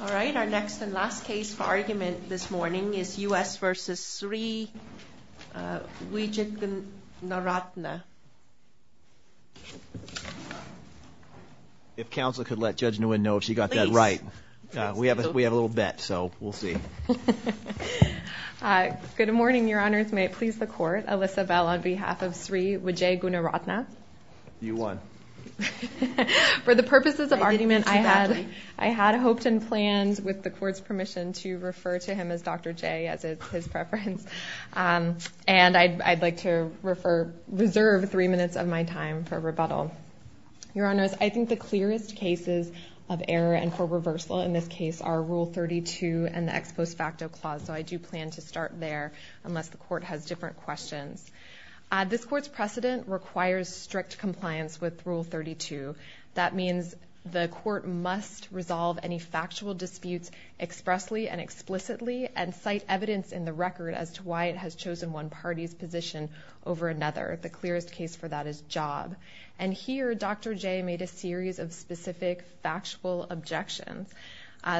All right, our next and last case for argument this morning is U.S. v. Sri Wijegoonaratna. If counsel could let Judge Nguyen know if she got that right, we have a little bet, so we'll see. Good morning, your honors. May it please the court. Alyssa Bell on behalf of Sri Wijegoonaratna. You won. For the purposes of argument, I had hoped and planned, with the court's permission, to refer to him as Dr. J, as it's his preference, and I'd like to reserve three minutes of my time for rebuttal. Your honors, I think the clearest cases of error and for reversal in this case are Rule 32 and the Ex Post Facto Clause, so I do plan to start there, unless the court has different questions. This court's precedent requires strict compliance with Rule 32. That means the court must resolve any factual disputes expressly and explicitly and cite evidence in the record as to why it has chosen one party's position over another. The clearest case for that is job. And here, Dr. J made a series of specific factual objections.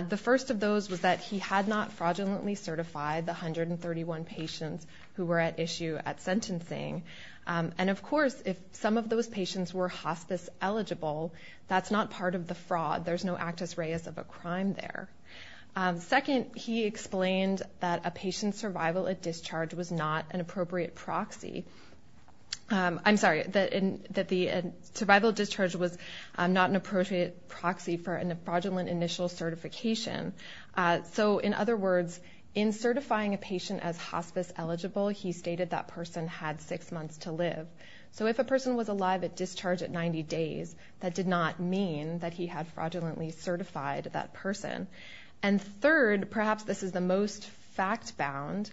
The first of those was that he had not fraudulently certified the 131 patients who were at issue at sentencing, and of course, if some of those patients were hospice-eligible, that's not part of the fraud. There's no actus reus of a crime there. Second, he explained that a patient's survival at discharge was not an appropriate proxy. I'm sorry, that the survival at discharge was not an appropriate proxy for a fraudulent initial certification. So, in other words, in certifying a patient as hospice-eligible, he stated that person had six months to live. So if a person was alive at discharge at 90 days, that did not mean that he had fraudulently certified that person. And third, perhaps this is the most fact-bound,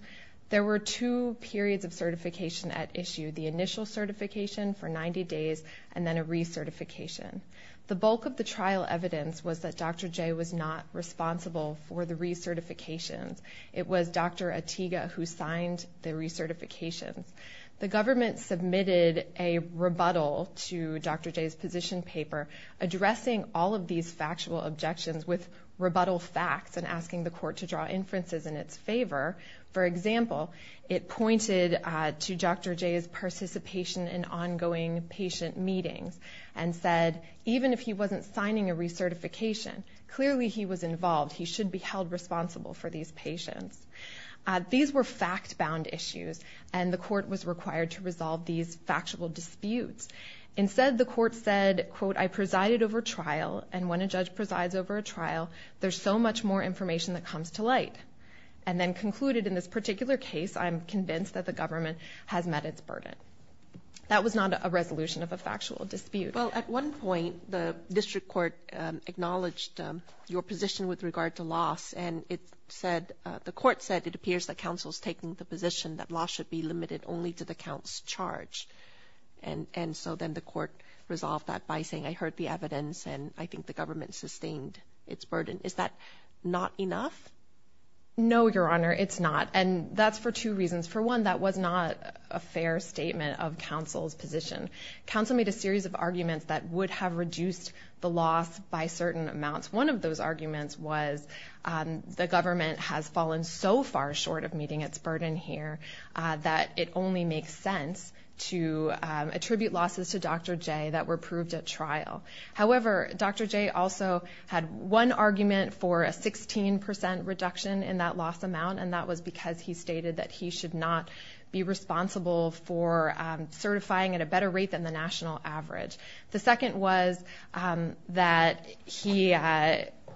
there were two periods of certification at issue, the initial certification for 90 days and then a recertification. The bulk of the trial evidence was that Dr. J was not responsible for the recertifications. It was Dr. Atiga who signed the recertifications. The government submitted a rebuttal to Dr. J's position paper addressing all of these factual objections with rebuttal facts and asking the court to draw inferences in its favor. For example, it pointed to Dr. J's participation in ongoing patient meetings and said, even if he wasn't signing a recertification, clearly he was involved. He should be held responsible for these patients. These were fact-bound issues, and the court was required to resolve these factual disputes. Instead, the court said, quote, I presided over trial, and when a judge presides over a trial, there's so much more information that comes to light. And then concluded, in this particular case, I'm convinced that the government has met its burden. That was not a resolution of a factual dispute. Well, at one point, the district court acknowledged your position with regard to loss, and it said, the court said, it appears that counsel's taking the position that loss should be limited only to the count's charge. And so then the court resolved that by saying, I heard the evidence, and I think the government sustained its burden. Is that not enough? No, Your Honor, it's not. And that's for two reasons. For one, that was not a fair statement of counsel's position. Counsel made a series of arguments that would have reduced the loss by certain amounts. One of those arguments was, the government has fallen so far short of meeting its burden here that it only makes sense to attribute losses to Dr. J that were proved at trial. However, Dr. J also had one argument for a 16% reduction in that loss amount, and that was because he stated that he should not be responsible for certifying at a better rate than the national average. The second was that he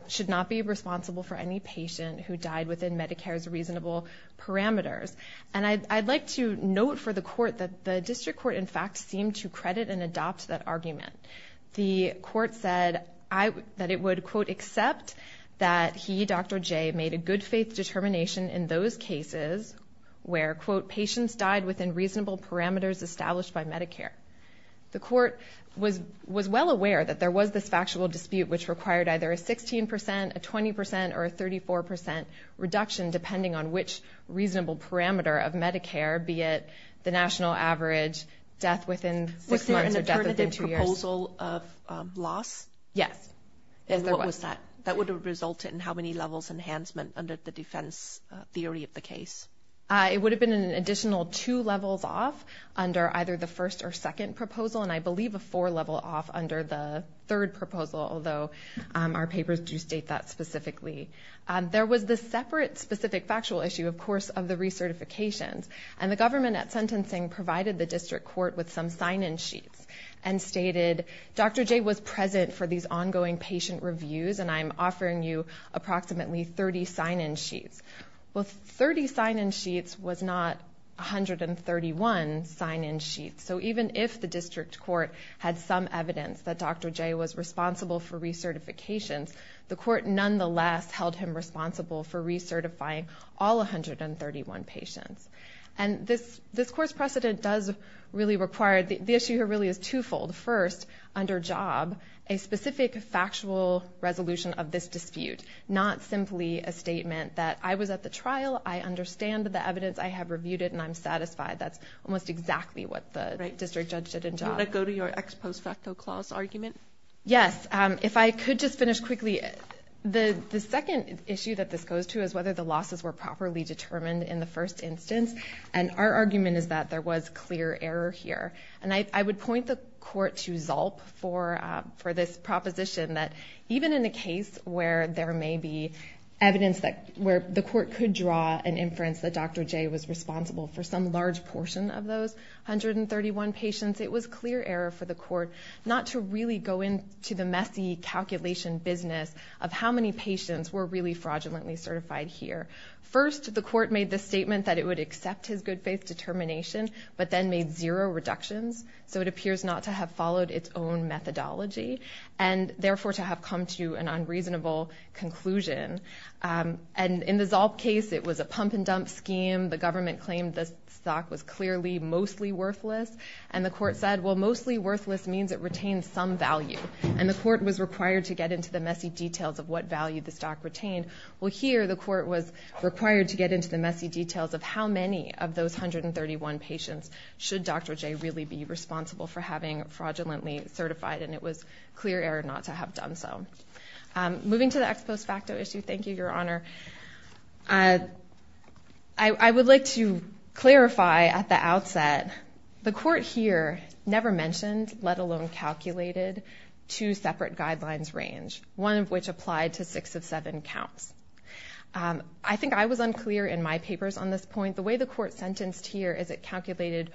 should not be responsible for any patient who died within Medicare's reasonable parameters. And I'd like to note for the court that the district court, in fact, seemed to credit and adopt that argument. The court said that it would, quote, accept that he, Dr. J, made a good-faith determination in those cases where, quote, patients died within reasonable parameters established by Medicare. The court was well aware that there was this factual dispute which required either a 16%, a 20%, or a 34% reduction depending on which reasonable parameter of Medicare, be it the national average, death within six months or death within two years. Was there a proposal of loss? Yes. And what was that? That would have resulted in how many levels enhancement under the defense theory of the case? It would have been an additional two levels off under either the first or second proposal, and I believe a four level off under the third proposal, although our papers do state that specifically. There was this separate specific factual issue, of course, of the recertifications. And the government at sentencing provided the district court with some sign-in sheets and stated, Dr. J was present for these ongoing patient reviews and I'm offering you approximately 30 sign-in sheets. Well, 30 sign-in sheets was not 131 sign-in sheets. So even if the district court had some evidence that Dr. J was responsible for recertifications, the court nonetheless held him responsible for recertifying all 131 patients. And this court's precedent does really require, the issue here really is twofold. First, under Job, a specific factual resolution of this dispute, not simply a statement that I was at the trial, I understand the evidence, I have reviewed it and I'm satisfied. That's almost exactly what the district judge did in Job. Do you want to go to your ex post facto clause argument? Yes. If I could just finish quickly. The second issue that this goes to is whether the losses were properly determined in the first instance. And our argument is that there was clear error here. And I would point the court to Zalp for this proposition that even in a case where there may be evidence where the court could draw an inference that Dr. J was responsible for some large portion of those 131 patients, it was clear error for the court not to really go into the messy calculation business of how many patients were really fraudulently certified here. First, the court made the statement that it would accept his good faith determination, but then made zero reductions. So it appears not to have followed its own methodology and therefore to have come to an unreasonable conclusion. And in the Zalp case, it was a pump and dump scheme. The government claimed the stock was clearly mostly worthless. And the court said, well, mostly worthless means it retains some value. And the court was required to get into the messy details of what value the stock retained. Well, here, the court was required to get into the messy details of how many of those 131 patients should Dr. J really be responsible for having fraudulently certified. And it was clear error not to have done so. Moving to the ex post facto issue, thank you, Your Honor. I would like to clarify at the outset. The court here never mentioned, let alone calculated, two separate guidelines range, one of which applied to six of seven counts. I think I was unclear in my papers on this point. The way the court sentenced here is it calculated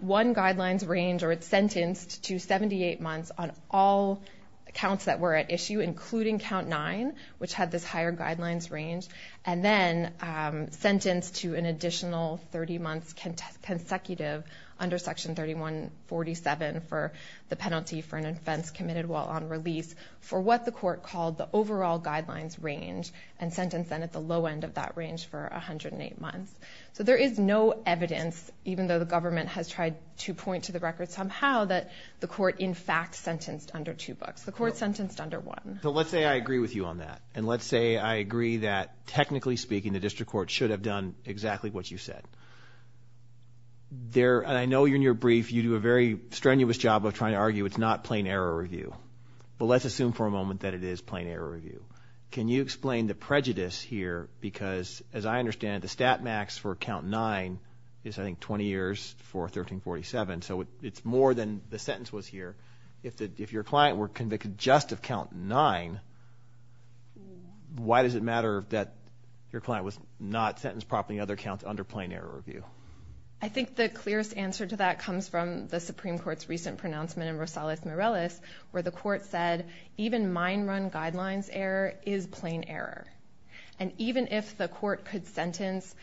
one guidelines range, or it sentenced to 78 months on all accounts that were at issue, including count nine, which had this higher guidelines range. And then sentenced to an additional 30 months consecutive under section 3147 for the penalty for an offense committed while on release for what the court called the overall guidelines range and sentenced then at the low end of that range for 108 months. So there is no evidence, even though the government has tried to point to the record somehow, that the court in fact sentenced under two books. The court sentenced under one. But let's say I agree with you on that. And let's say I agree that technically speaking, the district court should have done exactly what you said. There, and I know you're in your brief, you do a very strenuous job of trying to argue it's not plain error review. But let's assume for a moment that it is plain error review. Can you explain the prejudice here, because as I understand it, the stat max for count nine is I think 20 years for 1347. So it's more than the sentence was here. If your client were convicted just of count nine, why does it matter that your client was not sentenced properly in other counts under plain error review? I think the clearest answer to that comes from the Supreme Court's recent pronouncement in Rosales-Morales, where the court said, even mine run guidelines error is plain error. And even if the court could sentence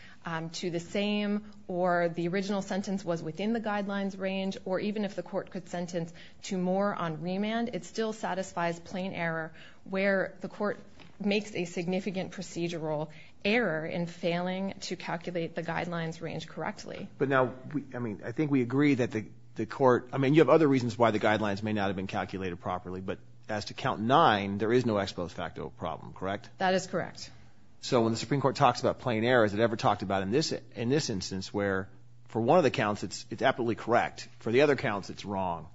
to the same, or the original sentence was within the guidelines range, or even if the court could sentence to more on remand, it still satisfies plain error, where the court makes a significant procedural error in failing to calculate the guidelines range correctly. But now, I mean, I think we agree that the court, I mean, you have other reasons why the guidelines may not have been calculated properly. But as to count nine, there is no ex post facto problem, correct? That is correct. So when the Supreme Court talks about plain error, has it ever talked about in this instance where for one of the counts, it's absolutely correct. For the other counts, it's wrong.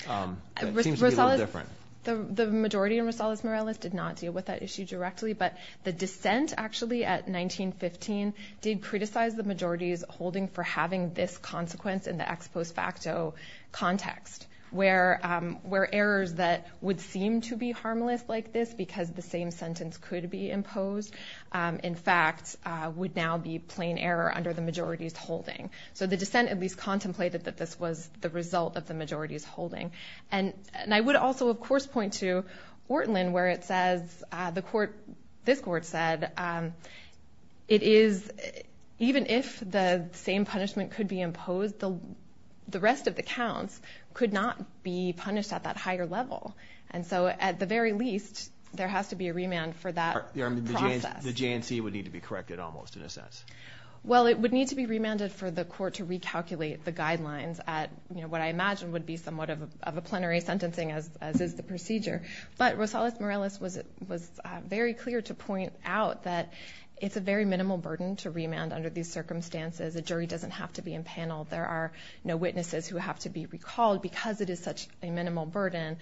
It seems to be a little different. The majority in Rosales-Morales did not deal with that issue directly, but the dissent actually at 1915 did criticize the majority's holding for having this consequence in the ex post facto context, where errors that would seem to be harmless like this, because the same sentence could be imposed, in fact, would now be plain error under the majority's holding. So the dissent at least contemplated that this was the result of the majority's holding. And I would also, of course, point to Ortlin, where it says, the court, this court said, it is, even if the same punishment could be imposed, the rest of the counts could not be punished at that higher level. And so at the very least, there has to be a remand for that process. The JNC would need to be corrected almost, in a sense. Well, it would need to be remanded for the court to recalculate the guidelines at what I imagine would be somewhat of a plenary sentencing, as is the procedure. But Rosales-Morales was very clear to point out that it's a very minimal burden to remand under these circumstances. A jury doesn't have to be impaneled. There are no witnesses who have to be recalled. Because it is such a minimal burden,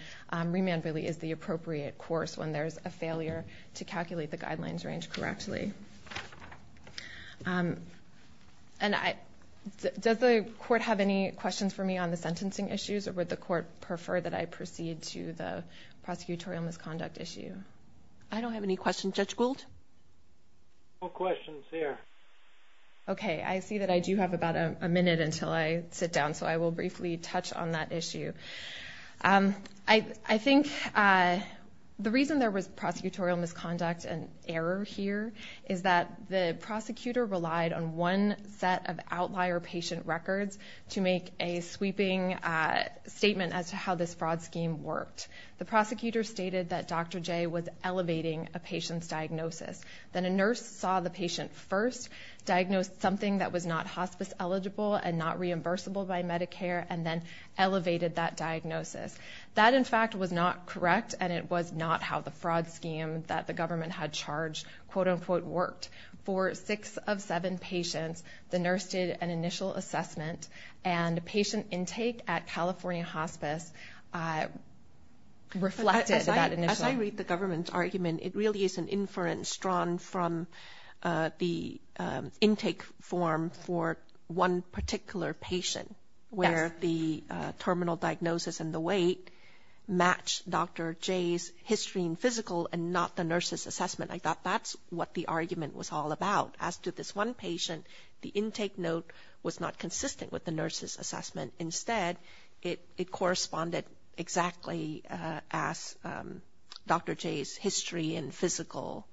remand really is the appropriate course when there's a failure to calculate the guidelines range correctly. And I, does the court have any questions for me on the sentencing issues, or would the court prefer that I proceed to the prosecutorial misconduct issue? I don't have any questions. Judge Gould? No questions here. Okay. I see that I do have about a minute until I sit down. So I will briefly touch on that issue. I think the reason there was prosecutorial misconduct and error here is that the prosecutor relied on one set of outlier patient records to make a sweeping statement as to how this fraud scheme worked. The prosecutor stated that Dr. J was elevating a patient's diagnosis. Then a nurse saw the patient first, diagnosed something that was not hospice eligible and not reimbursable by Medicare, and then elevated that diagnosis. That in fact was not correct, and it was not how the fraud scheme that the government had charged quote-unquote worked. For six of seven patients, the nurse did an initial assessment, and patient intake at California Hospice reflected that initial. As I read the government's argument, it really is an inference drawn from the intake form for one particular patient where the terminal diagnosis and the weight match Dr. J's history and physical and not the nurse's assessment. I thought that's what the argument was all about. As to this one patient, the intake note was not consistent with the nurse's assessment. Instead, it corresponded exactly as Dr. J's history and physical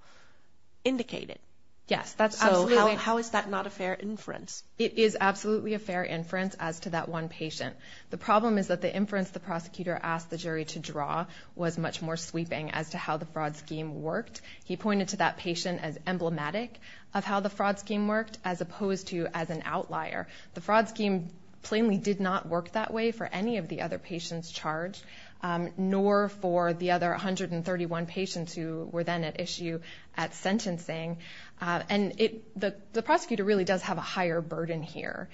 indicated. Yes. How is that not a fair inference? It is absolutely a fair inference as to that one patient. The problem is that the inference the prosecutor asked the jury to draw was much more sweeping as to how the fraud scheme worked. He pointed to that patient as emblematic of how the fraud scheme worked as opposed to as an outlier. The fraud scheme plainly did not work that way for any of the other patients charged, nor for the other 131 patients who were then at issue at sentencing. The prosecutor really does have a higher burden here.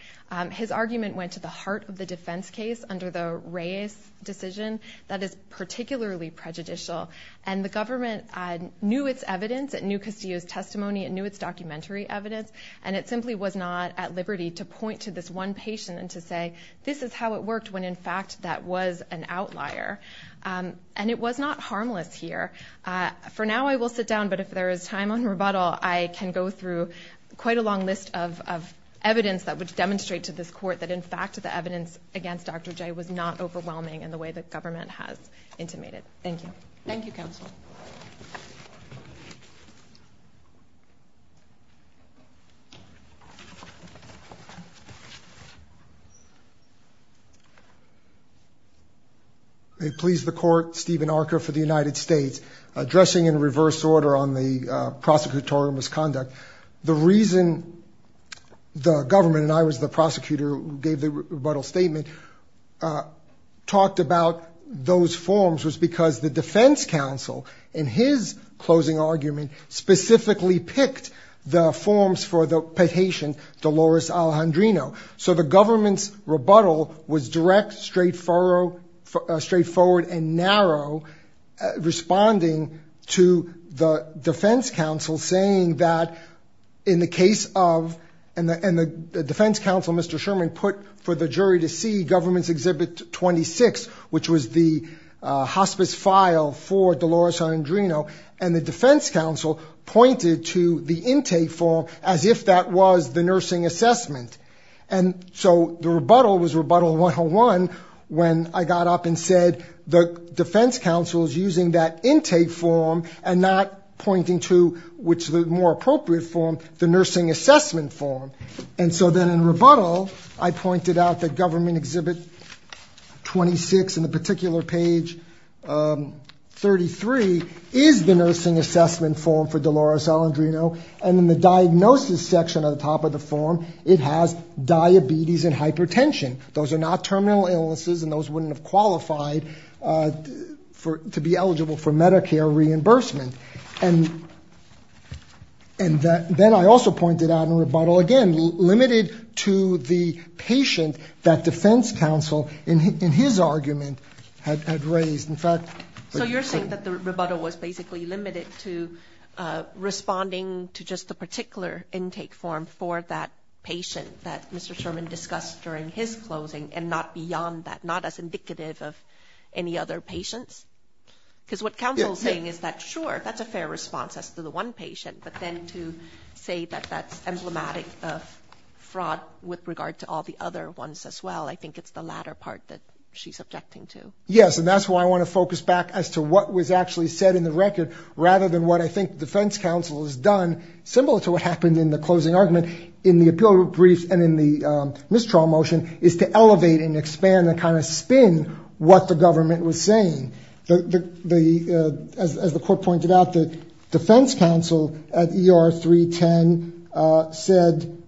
His argument went to the heart of the defense case under the Reyes decision. That is particularly prejudicial. The government knew its evidence, it knew Castillo's testimony, it knew its documentary evidence. It simply was not at liberty to point to this one patient and to say, this is how it worked when in fact that was an outlier. And it was not harmless here. For now, I will sit down, but if there is time on rebuttal, I can go through quite a long list of evidence that would demonstrate to this court that in fact the evidence against Dr. J was not overwhelming in the way the government has intimated. Thank you. Thank you, counsel. May it please the court, Stephen Archer for the United States, addressing in reverse order on the prosecutorial misconduct. The reason the government, and I was the prosecutor who gave the rebuttal statement, talked about those forms was because the defense counsel, in his closing argument, specifically picked the forms for the patient, Dolores Alejandrino. So the government's rebuttal was direct, straightforward, and narrow, responding to the defense counsel saying that in the case of, and the defense counsel, Mr. Sherman, put for the jury to see government's Exhibit 26, which was the hospice file for Dolores Alejandrino, and the defense counsel pointed to the intake form as if that was the nursing assessment. And so the rebuttal was rebuttal 101 when I got up and said the defense counsel is using that intake form and not pointing to, which is the more appropriate form, the nursing assessment form. And so then in rebuttal, I pointed out that government Exhibit 26, in the particular page 33, is the nursing assessment form for Dolores Alejandrino, and in the diagnosis section at the top of the form, it has diabetes and hypertension. Those are not terminal illnesses, and those wouldn't have qualified to be eligible for Medicare reimbursement. And then I also pointed out in rebuttal, again, limited to the patient that defense counsel, in his argument, had raised. In fact, but- So you're saying that the rebuttal was basically limited to responding to just the particular intake form for that patient that Mr. Sherman discussed during his closing and not beyond that, not as indicative of any other patients? Because what counsel is saying is that, sure, that's a fair response as to the one patient, but then to say that that's emblematic of fraud with regard to all the other ones as well, I think it's the latter part that she's objecting to. Yes, and that's why I want to focus back as to what was actually said in the record rather than what I think defense counsel has done, similar to what happened in the closing argument in the appeal brief and in the mistrial motion, is to elevate and expand and kind of spin what the government was saying. As the court pointed out, the defense counsel at ER 310 said,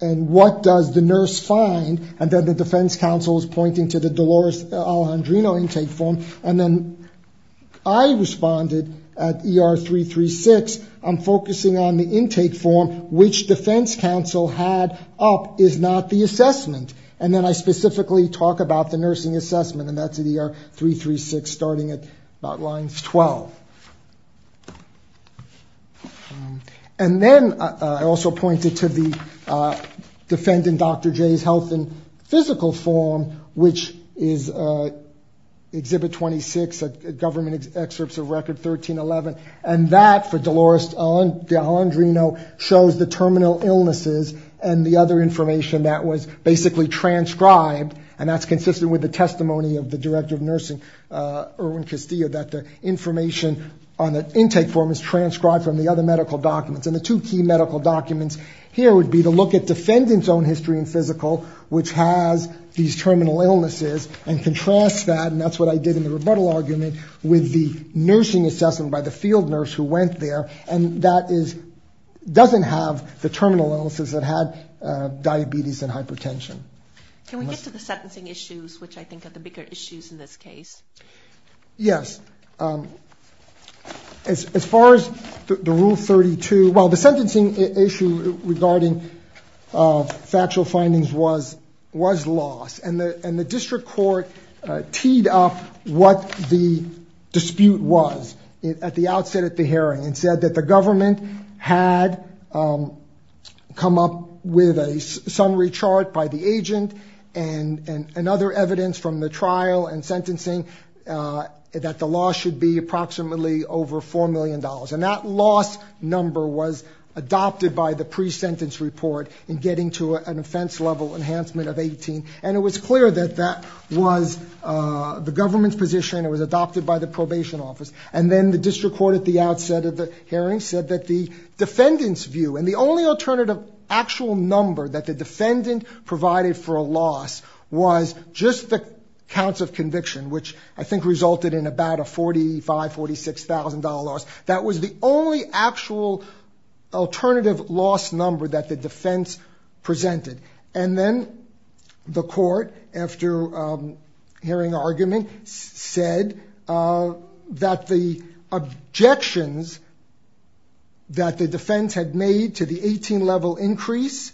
and what does the nurse find, and then the defense counsel is pointing to the Dolores Alejandrino intake form, and then I responded at ER 336, I'm focusing on the intake form, which defense counsel had up is not the assessment. And then I specifically talk about the nursing assessment, and that's at ER 336, starting at about lines 12. And then I also pointed to the defendant, Dr. J's health and physical form, which is exhibit 26, government excerpts of record 1311, and that for Dolores Alejandrino shows the terminal illnesses and the other information that was basically transcribed, and that's information on the intake form is transcribed from the other medical documents. And the two key medical documents here would be to look at defendant's own history and physical, which has these terminal illnesses, and contrast that, and that's what I did in the rebuttal argument, with the nursing assessment by the field nurse who went there, and that is, doesn't have the terminal illnesses that had diabetes and hypertension. Can we get to the sentencing issues, which I think are the bigger issues in this case? Yes. As far as the Rule 32, well, the sentencing issue regarding factual findings was lost, and the district court teed up what the dispute was at the outset of the hearing and said that the government had come up with a summary chart by the agent and other evidence from the trial and sentencing that the loss should be approximately over $4 million, and that loss number was adopted by the pre-sentence report in getting to an offense-level enhancement of 18, and it was clear that that was the government's position, it was adopted by the probation office, and then the district court at the outset of the hearing said that the defendant's view, and the only alternative actual number that the defendant provided for a loss was just the counts of conviction, which I think resulted in about a $45, $46,000. That was the only actual alternative loss number that the defense presented, and then the court, after hearing argument, said that the objections that the defense had made to the 18-level increase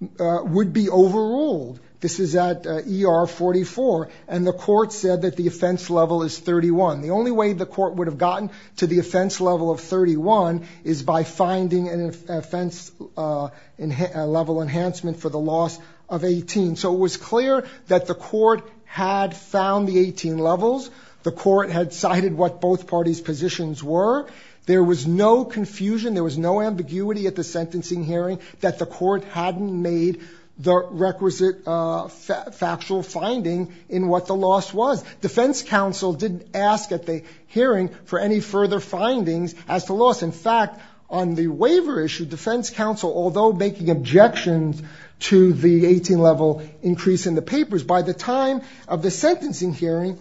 would be overruled. This is at ER 44, and the court said that the offense level is 31. The only way the court would have gotten to the offense level of 31 is by finding an offense-level enhancement for the loss of 18, so it was clear that the court had found the 18 levels, the court had cited what both parties' positions were, there was no confusion, there was no confusion at the time of the sentencing hearing that the court hadn't made the requisite factual finding in what the loss was. Defense counsel didn't ask at the hearing for any further findings as to loss. In fact, on the waiver issue, defense counsel, although making objections to the 18-level increase in the papers, by the time of the sentencing hearing,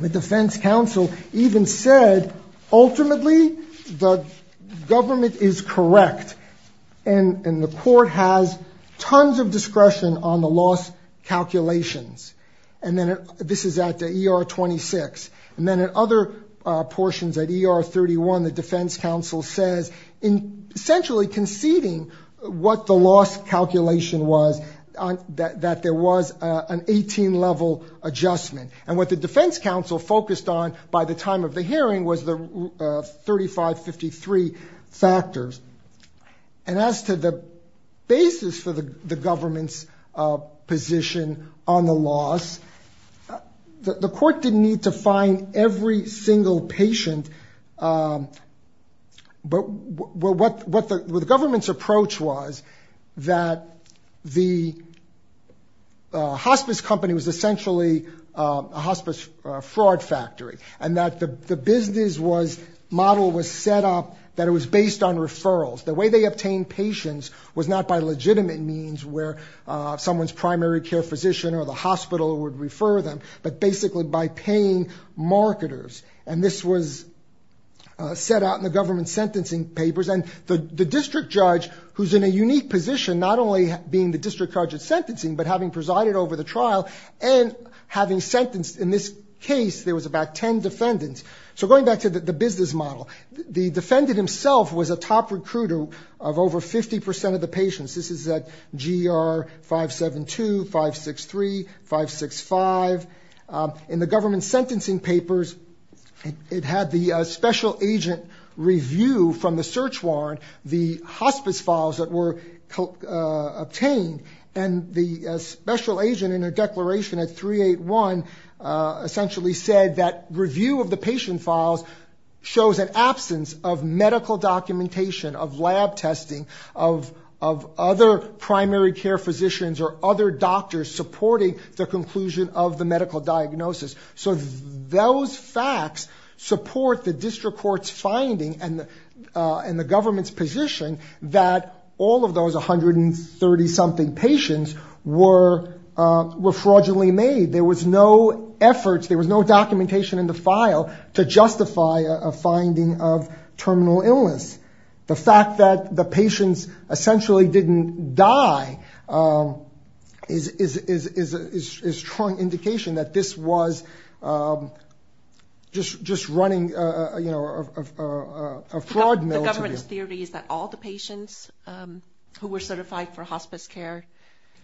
the defense counsel even said, ultimately, the government is correct, and the court has tons of discretion on the loss calculations, and this is at ER 26, and then at other portions at ER 31, the defense counsel says, essentially conceding what the loss calculation was, that there was an 18-level adjustment. And what the defense counsel focused on by the time of the hearing was the 3553 factors. And as to the basis for the government's position on the loss, the court didn't need to find every single patient, but what the government's approach was, that the hospice company was a hospice fraud factory, and that the business model was set up that it was based on referrals. The way they obtained patients was not by legitimate means where someone's primary care physician or the hospital would refer them, but basically by paying marketers. And this was set out in the government's sentencing papers, and the district judge, who's in a unique position, not only being the district judge at sentencing, but having presided over the trial, and having sentenced, in this case, there was about 10 defendants. So going back to the business model, the defendant himself was a top recruiter of over 50 percent of the patients. This is at GR 572, 563, 565. In the government's sentencing papers, it had the special agent review from the search warrant, the hospice files that were obtained, and the special agent in a declaration at 381 essentially said that review of the patient files shows an absence of medical documentation, of lab testing, of other primary care physicians or other doctors supporting the conclusion of the medical diagnosis. So those facts support the district court's finding and the government's position that all of those 130-something patients were fraudulently made. There was no effort, there was no documentation in the file to justify a finding of terminal illness. The fact that the patients essentially didn't die is a strong indication that this was just running a fraud mill to them. The government's theory is that all the patients who were certified for hospice care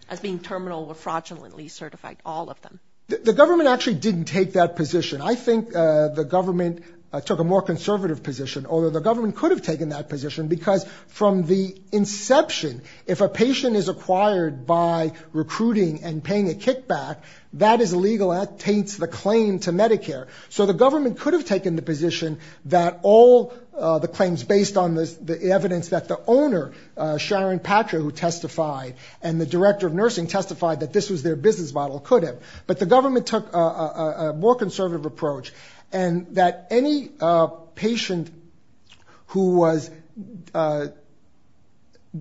as being terminal were fraudulently certified, all of them. The government actually didn't take that position. I think the government took a more conservative position, although the government could have taken that position, because from the inception, if a patient is acquired by recruiting and paying a kickback, that is illegal and that taints the claim to Medicare. So the government could have taken the position that all the claims based on the evidence that the owner, Sharon Patra, who testified, and the director of nursing testified that this was their business model, could have. But the government took a more conservative approach, and that any patient who was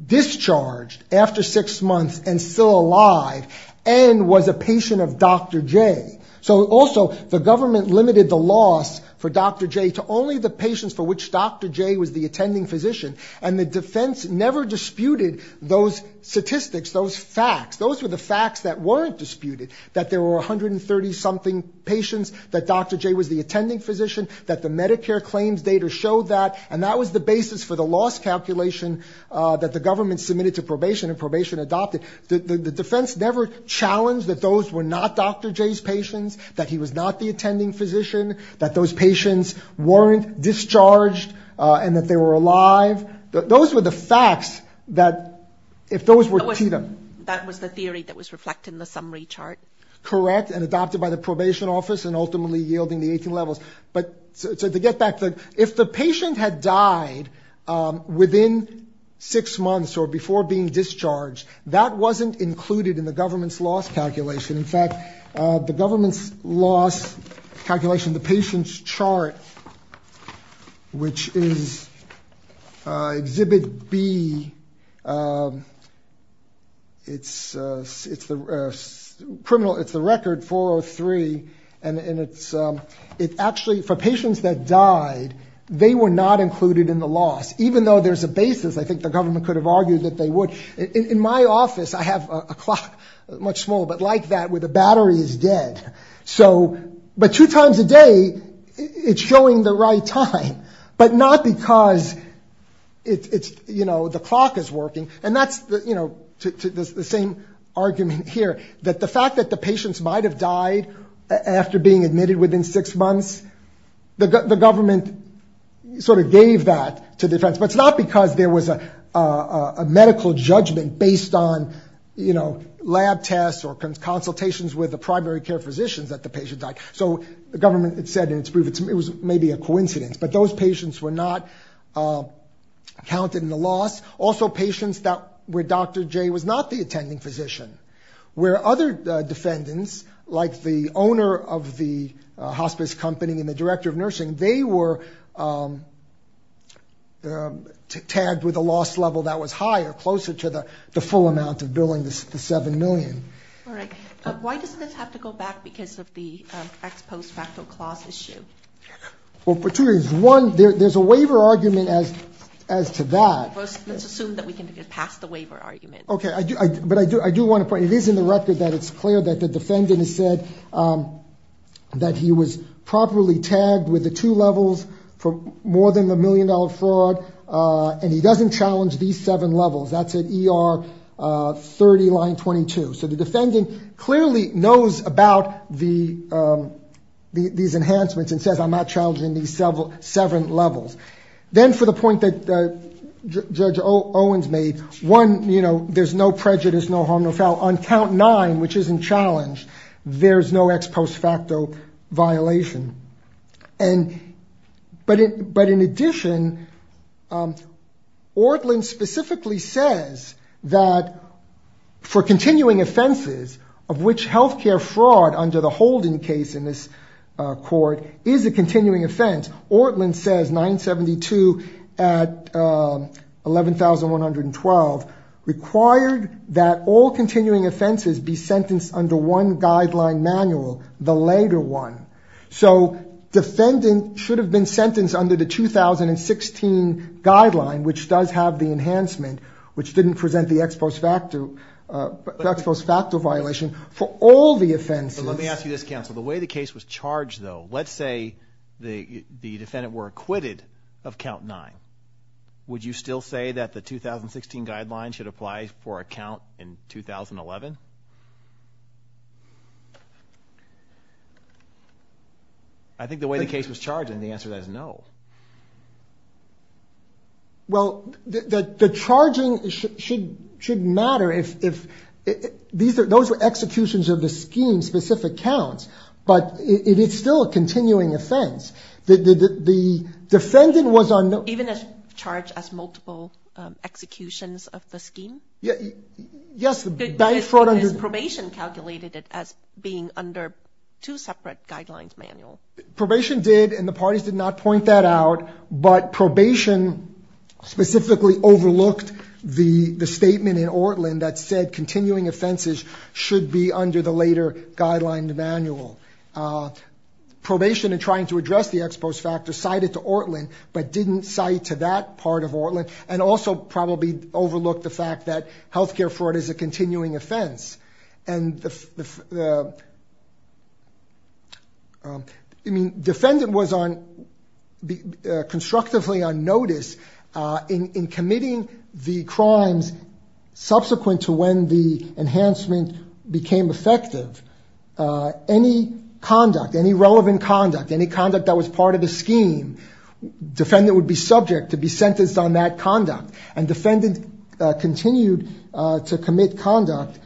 discharged after six months and still alive and was a patient of Dr. J, so also the government limited the loss for Dr. J to only the patients for which Dr. J was the attending physician, and the defense never disputed those statistics, those facts. Those were the facts that weren't disputed, that there were 130-something patients, that Dr. J was the attending physician, that the Medicare claims data showed that, and that was the basis for the loss calculation that the government submitted to probation and probation adopted. The defense never challenged that those were not Dr. J's patients, that he was not the attending physician, that those patients weren't discharged, and that they were alive. Those were the facts that, if those were to them. That was the theory that was reflected in the summary chart. Correct, and adopted by the probation office, and ultimately yielding the 18 levels. But to get back to it, if the patient had died within six months or before being discharged, that wasn't included in the government's loss calculation. In fact, the government's loss calculation, the patient's chart, which is Exhibit B, it's the record 403, and it's actually, for patients that died, they were not included in the loss. Even though there's a basis, I think the government could have argued that they would. In my office, I have a clock, much smaller, but like that, where the battery is dead. But two times a day, it's showing the right time, but not because the clock is working. And that's the same argument here, that the fact that the patients might have died after being admitted within six months, the government sort of gave that to defense. But it's not because there was a medical judgment based on lab tests or consultations with the primary care physicians that the patient died. So the government said in its brief, it was maybe a coincidence, but those patients were not counted in the loss. Also patients where Dr. J was not the attending physician, where other defendants, like the other defendants, were tagged with a loss level that was higher, closer to the full amount of billing, the $7 million. All right. Why does this have to go back because of the ex post facto clause issue? Well, for two reasons. One, there's a waiver argument as to that. Let's assume that we can get past the waiver argument. Okay. But I do want to point out, it is in the record that it's clear that the defendant said that he was properly tagged with the two levels for more than the $1 million fraud, and he doesn't challenge these seven levels. That's at ER 30, line 22. So the defendant clearly knows about these enhancements and says, I'm not challenging these seven levels. Then for the point that Judge Owens made, one, there's no prejudice, no harm, no foul. On count nine, which isn't challenged, there's no ex post facto violation. But in addition, Ortlin specifically says that for continuing offenses, of which healthcare fraud under the Holden case in this court is a continuing offense, Ortlin says 972 at 11,112 required that all continuing offenses be sentenced under one guideline manual, the later one. So defendant should have been sentenced under the 2016 guideline, which does have the enhancement, which didn't present the ex post facto violation for all the offenses. Let me ask you this, counsel. The way the case was charged, though, let's say the defendant were acquitted of count nine. Would you still say that the 2016 guideline should apply for a count in 2011? I think the way the case was charged, and the answer is no. Well the charging should matter if, those were executions of the scheme specific counts, but it's still a continuing offense. The defendant was on... Even as charged as multiple executions of the scheme? Yes, the bank fraud under... Is probation calculated as being under two separate guidelines manual? Probation did, and the parties did not point that out, but probation specifically overlooked the statement in Ortlin that said continuing offenses should be under the later guideline manual. Probation in trying to address the ex post facto cited to Ortlin, but didn't cite to that part of Ortlin, and also probably overlooked the fact that healthcare fraud is a continuing offense. And the... Defendant was constructively on notice in committing the crimes subsequent to when the enhancement became effective. Any conduct, any relevant conduct, any conduct that was part of the scheme, defendant would be subject to be sentenced on that conduct. And defendant continued to commit conduct,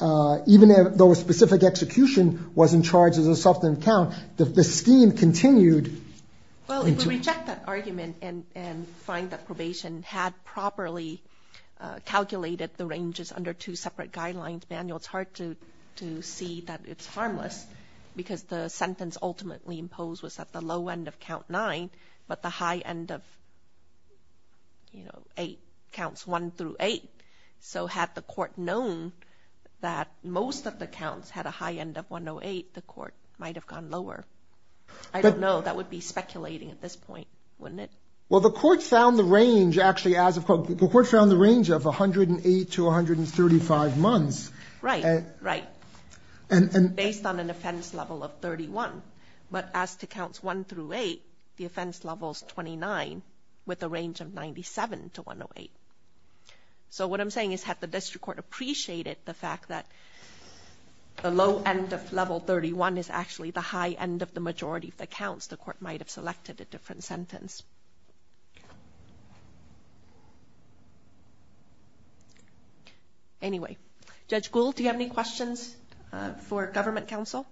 even though a specific execution wasn't charged as a subsequent count, the scheme continued... Well, if we reject that argument and find that probation had properly calculated the harmless, because the sentence ultimately imposed was at the low end of count nine, but the high end of, you know, eight counts one through eight. So had the court known that most of the counts had a high end of 108, the court might have gone lower. I don't know. That would be speculating at this point, wouldn't it? Well, the court found the range actually as of... The court found the range of 108 to 135 months. Right, right. Based on an offense level of 31, but as to counts one through eight, the offense level is 29 with a range of 97 to 108. So what I'm saying is had the district court appreciated the fact that the low end of level 31 is actually the high end of the majority of the counts, the court might have selected a different sentence. Anyway, Judge Gould, do you have any questions for government counsel?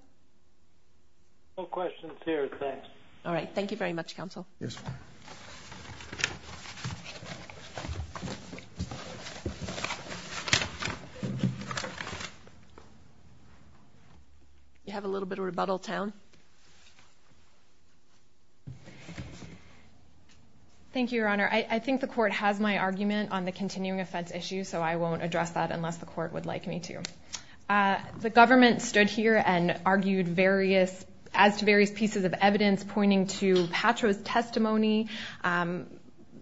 No questions here, thanks. All right. Thank you very much, counsel. Yes, ma'am. Thank you, Your Honor. I think the court has my argument on the continuing offense issue, so I won't address that unless the court would like me to. The government stood here and argued various... As to various pieces of evidence pointing to Patro's testimony,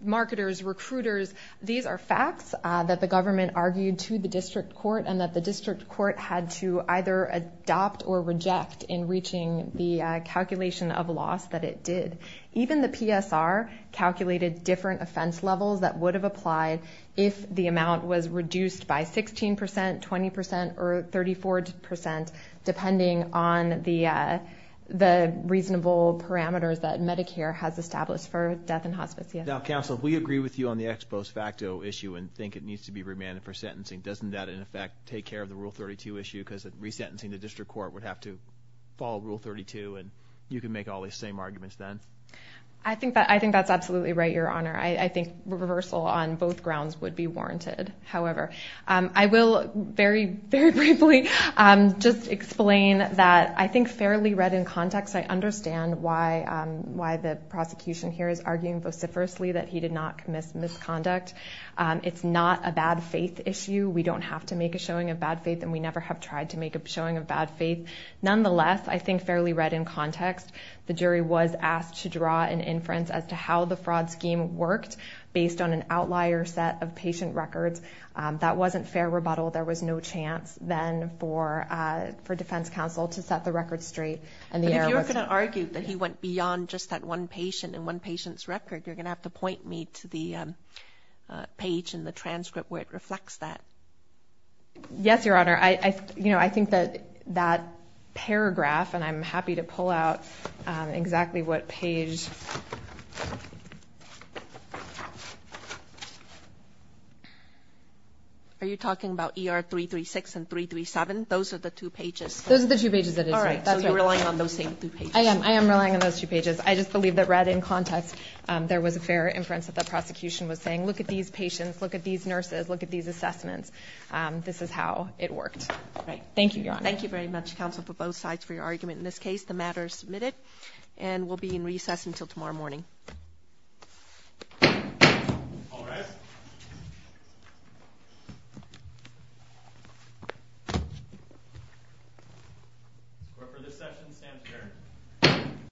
marketers, recruiters, these are facts that the government argued to the district court and that the district court had to either adopt or reject in reaching the calculation of loss that it did. Even the PSR calculated different offense levels that would have applied if the amount was reduced by 16%, 20%, or 34%, depending on the reasonable parameters that Medicare has established for death in hospice. Now, counsel, we agree with you on the ex post facto issue and think it needs to be remanded for sentencing. Doesn't that, in effect, take care of the Rule 32 issue because resentencing the district court would have to follow Rule 32 and you can make all these same arguments then? I think that's absolutely right, Your Honor. I think reversal on both grounds would be warranted. However, I will very, very briefly just explain that I think fairly read in context, I understand why the prosecution here is arguing vociferously that he did not commit misconduct. It's not a bad faith issue. We don't have to make a showing of bad faith and we never have tried to make a showing of bad faith. Nonetheless, I think fairly read in context, the jury was asked to draw an inference as to how the fraud scheme worked based on an outlier set of patient records. That wasn't fair rebuttal. There was no chance then for defense counsel to set the record straight. If you were going to argue that he went beyond just that one patient and one patient's page in the transcript where it reflects that. Yes, Your Honor. I think that that paragraph, and I'm happy to pull out exactly what page. Are you talking about ER 336 and 337? Those are the two pages. Those are the two pages. All right. So you're relying on those same two pages. I am. I am relying on those two pages. I just believe that read in context, there was a fair inference that the prosecution was saying, look at these patients, look at these nurses, look at these assessments. This is how it worked. All right. Thank you, Your Honor. Thank you very much, counsel, for both sides for your argument in this case. The matter is submitted and will be in recess until tomorrow morning. All rise. We're for this session. Stand clear.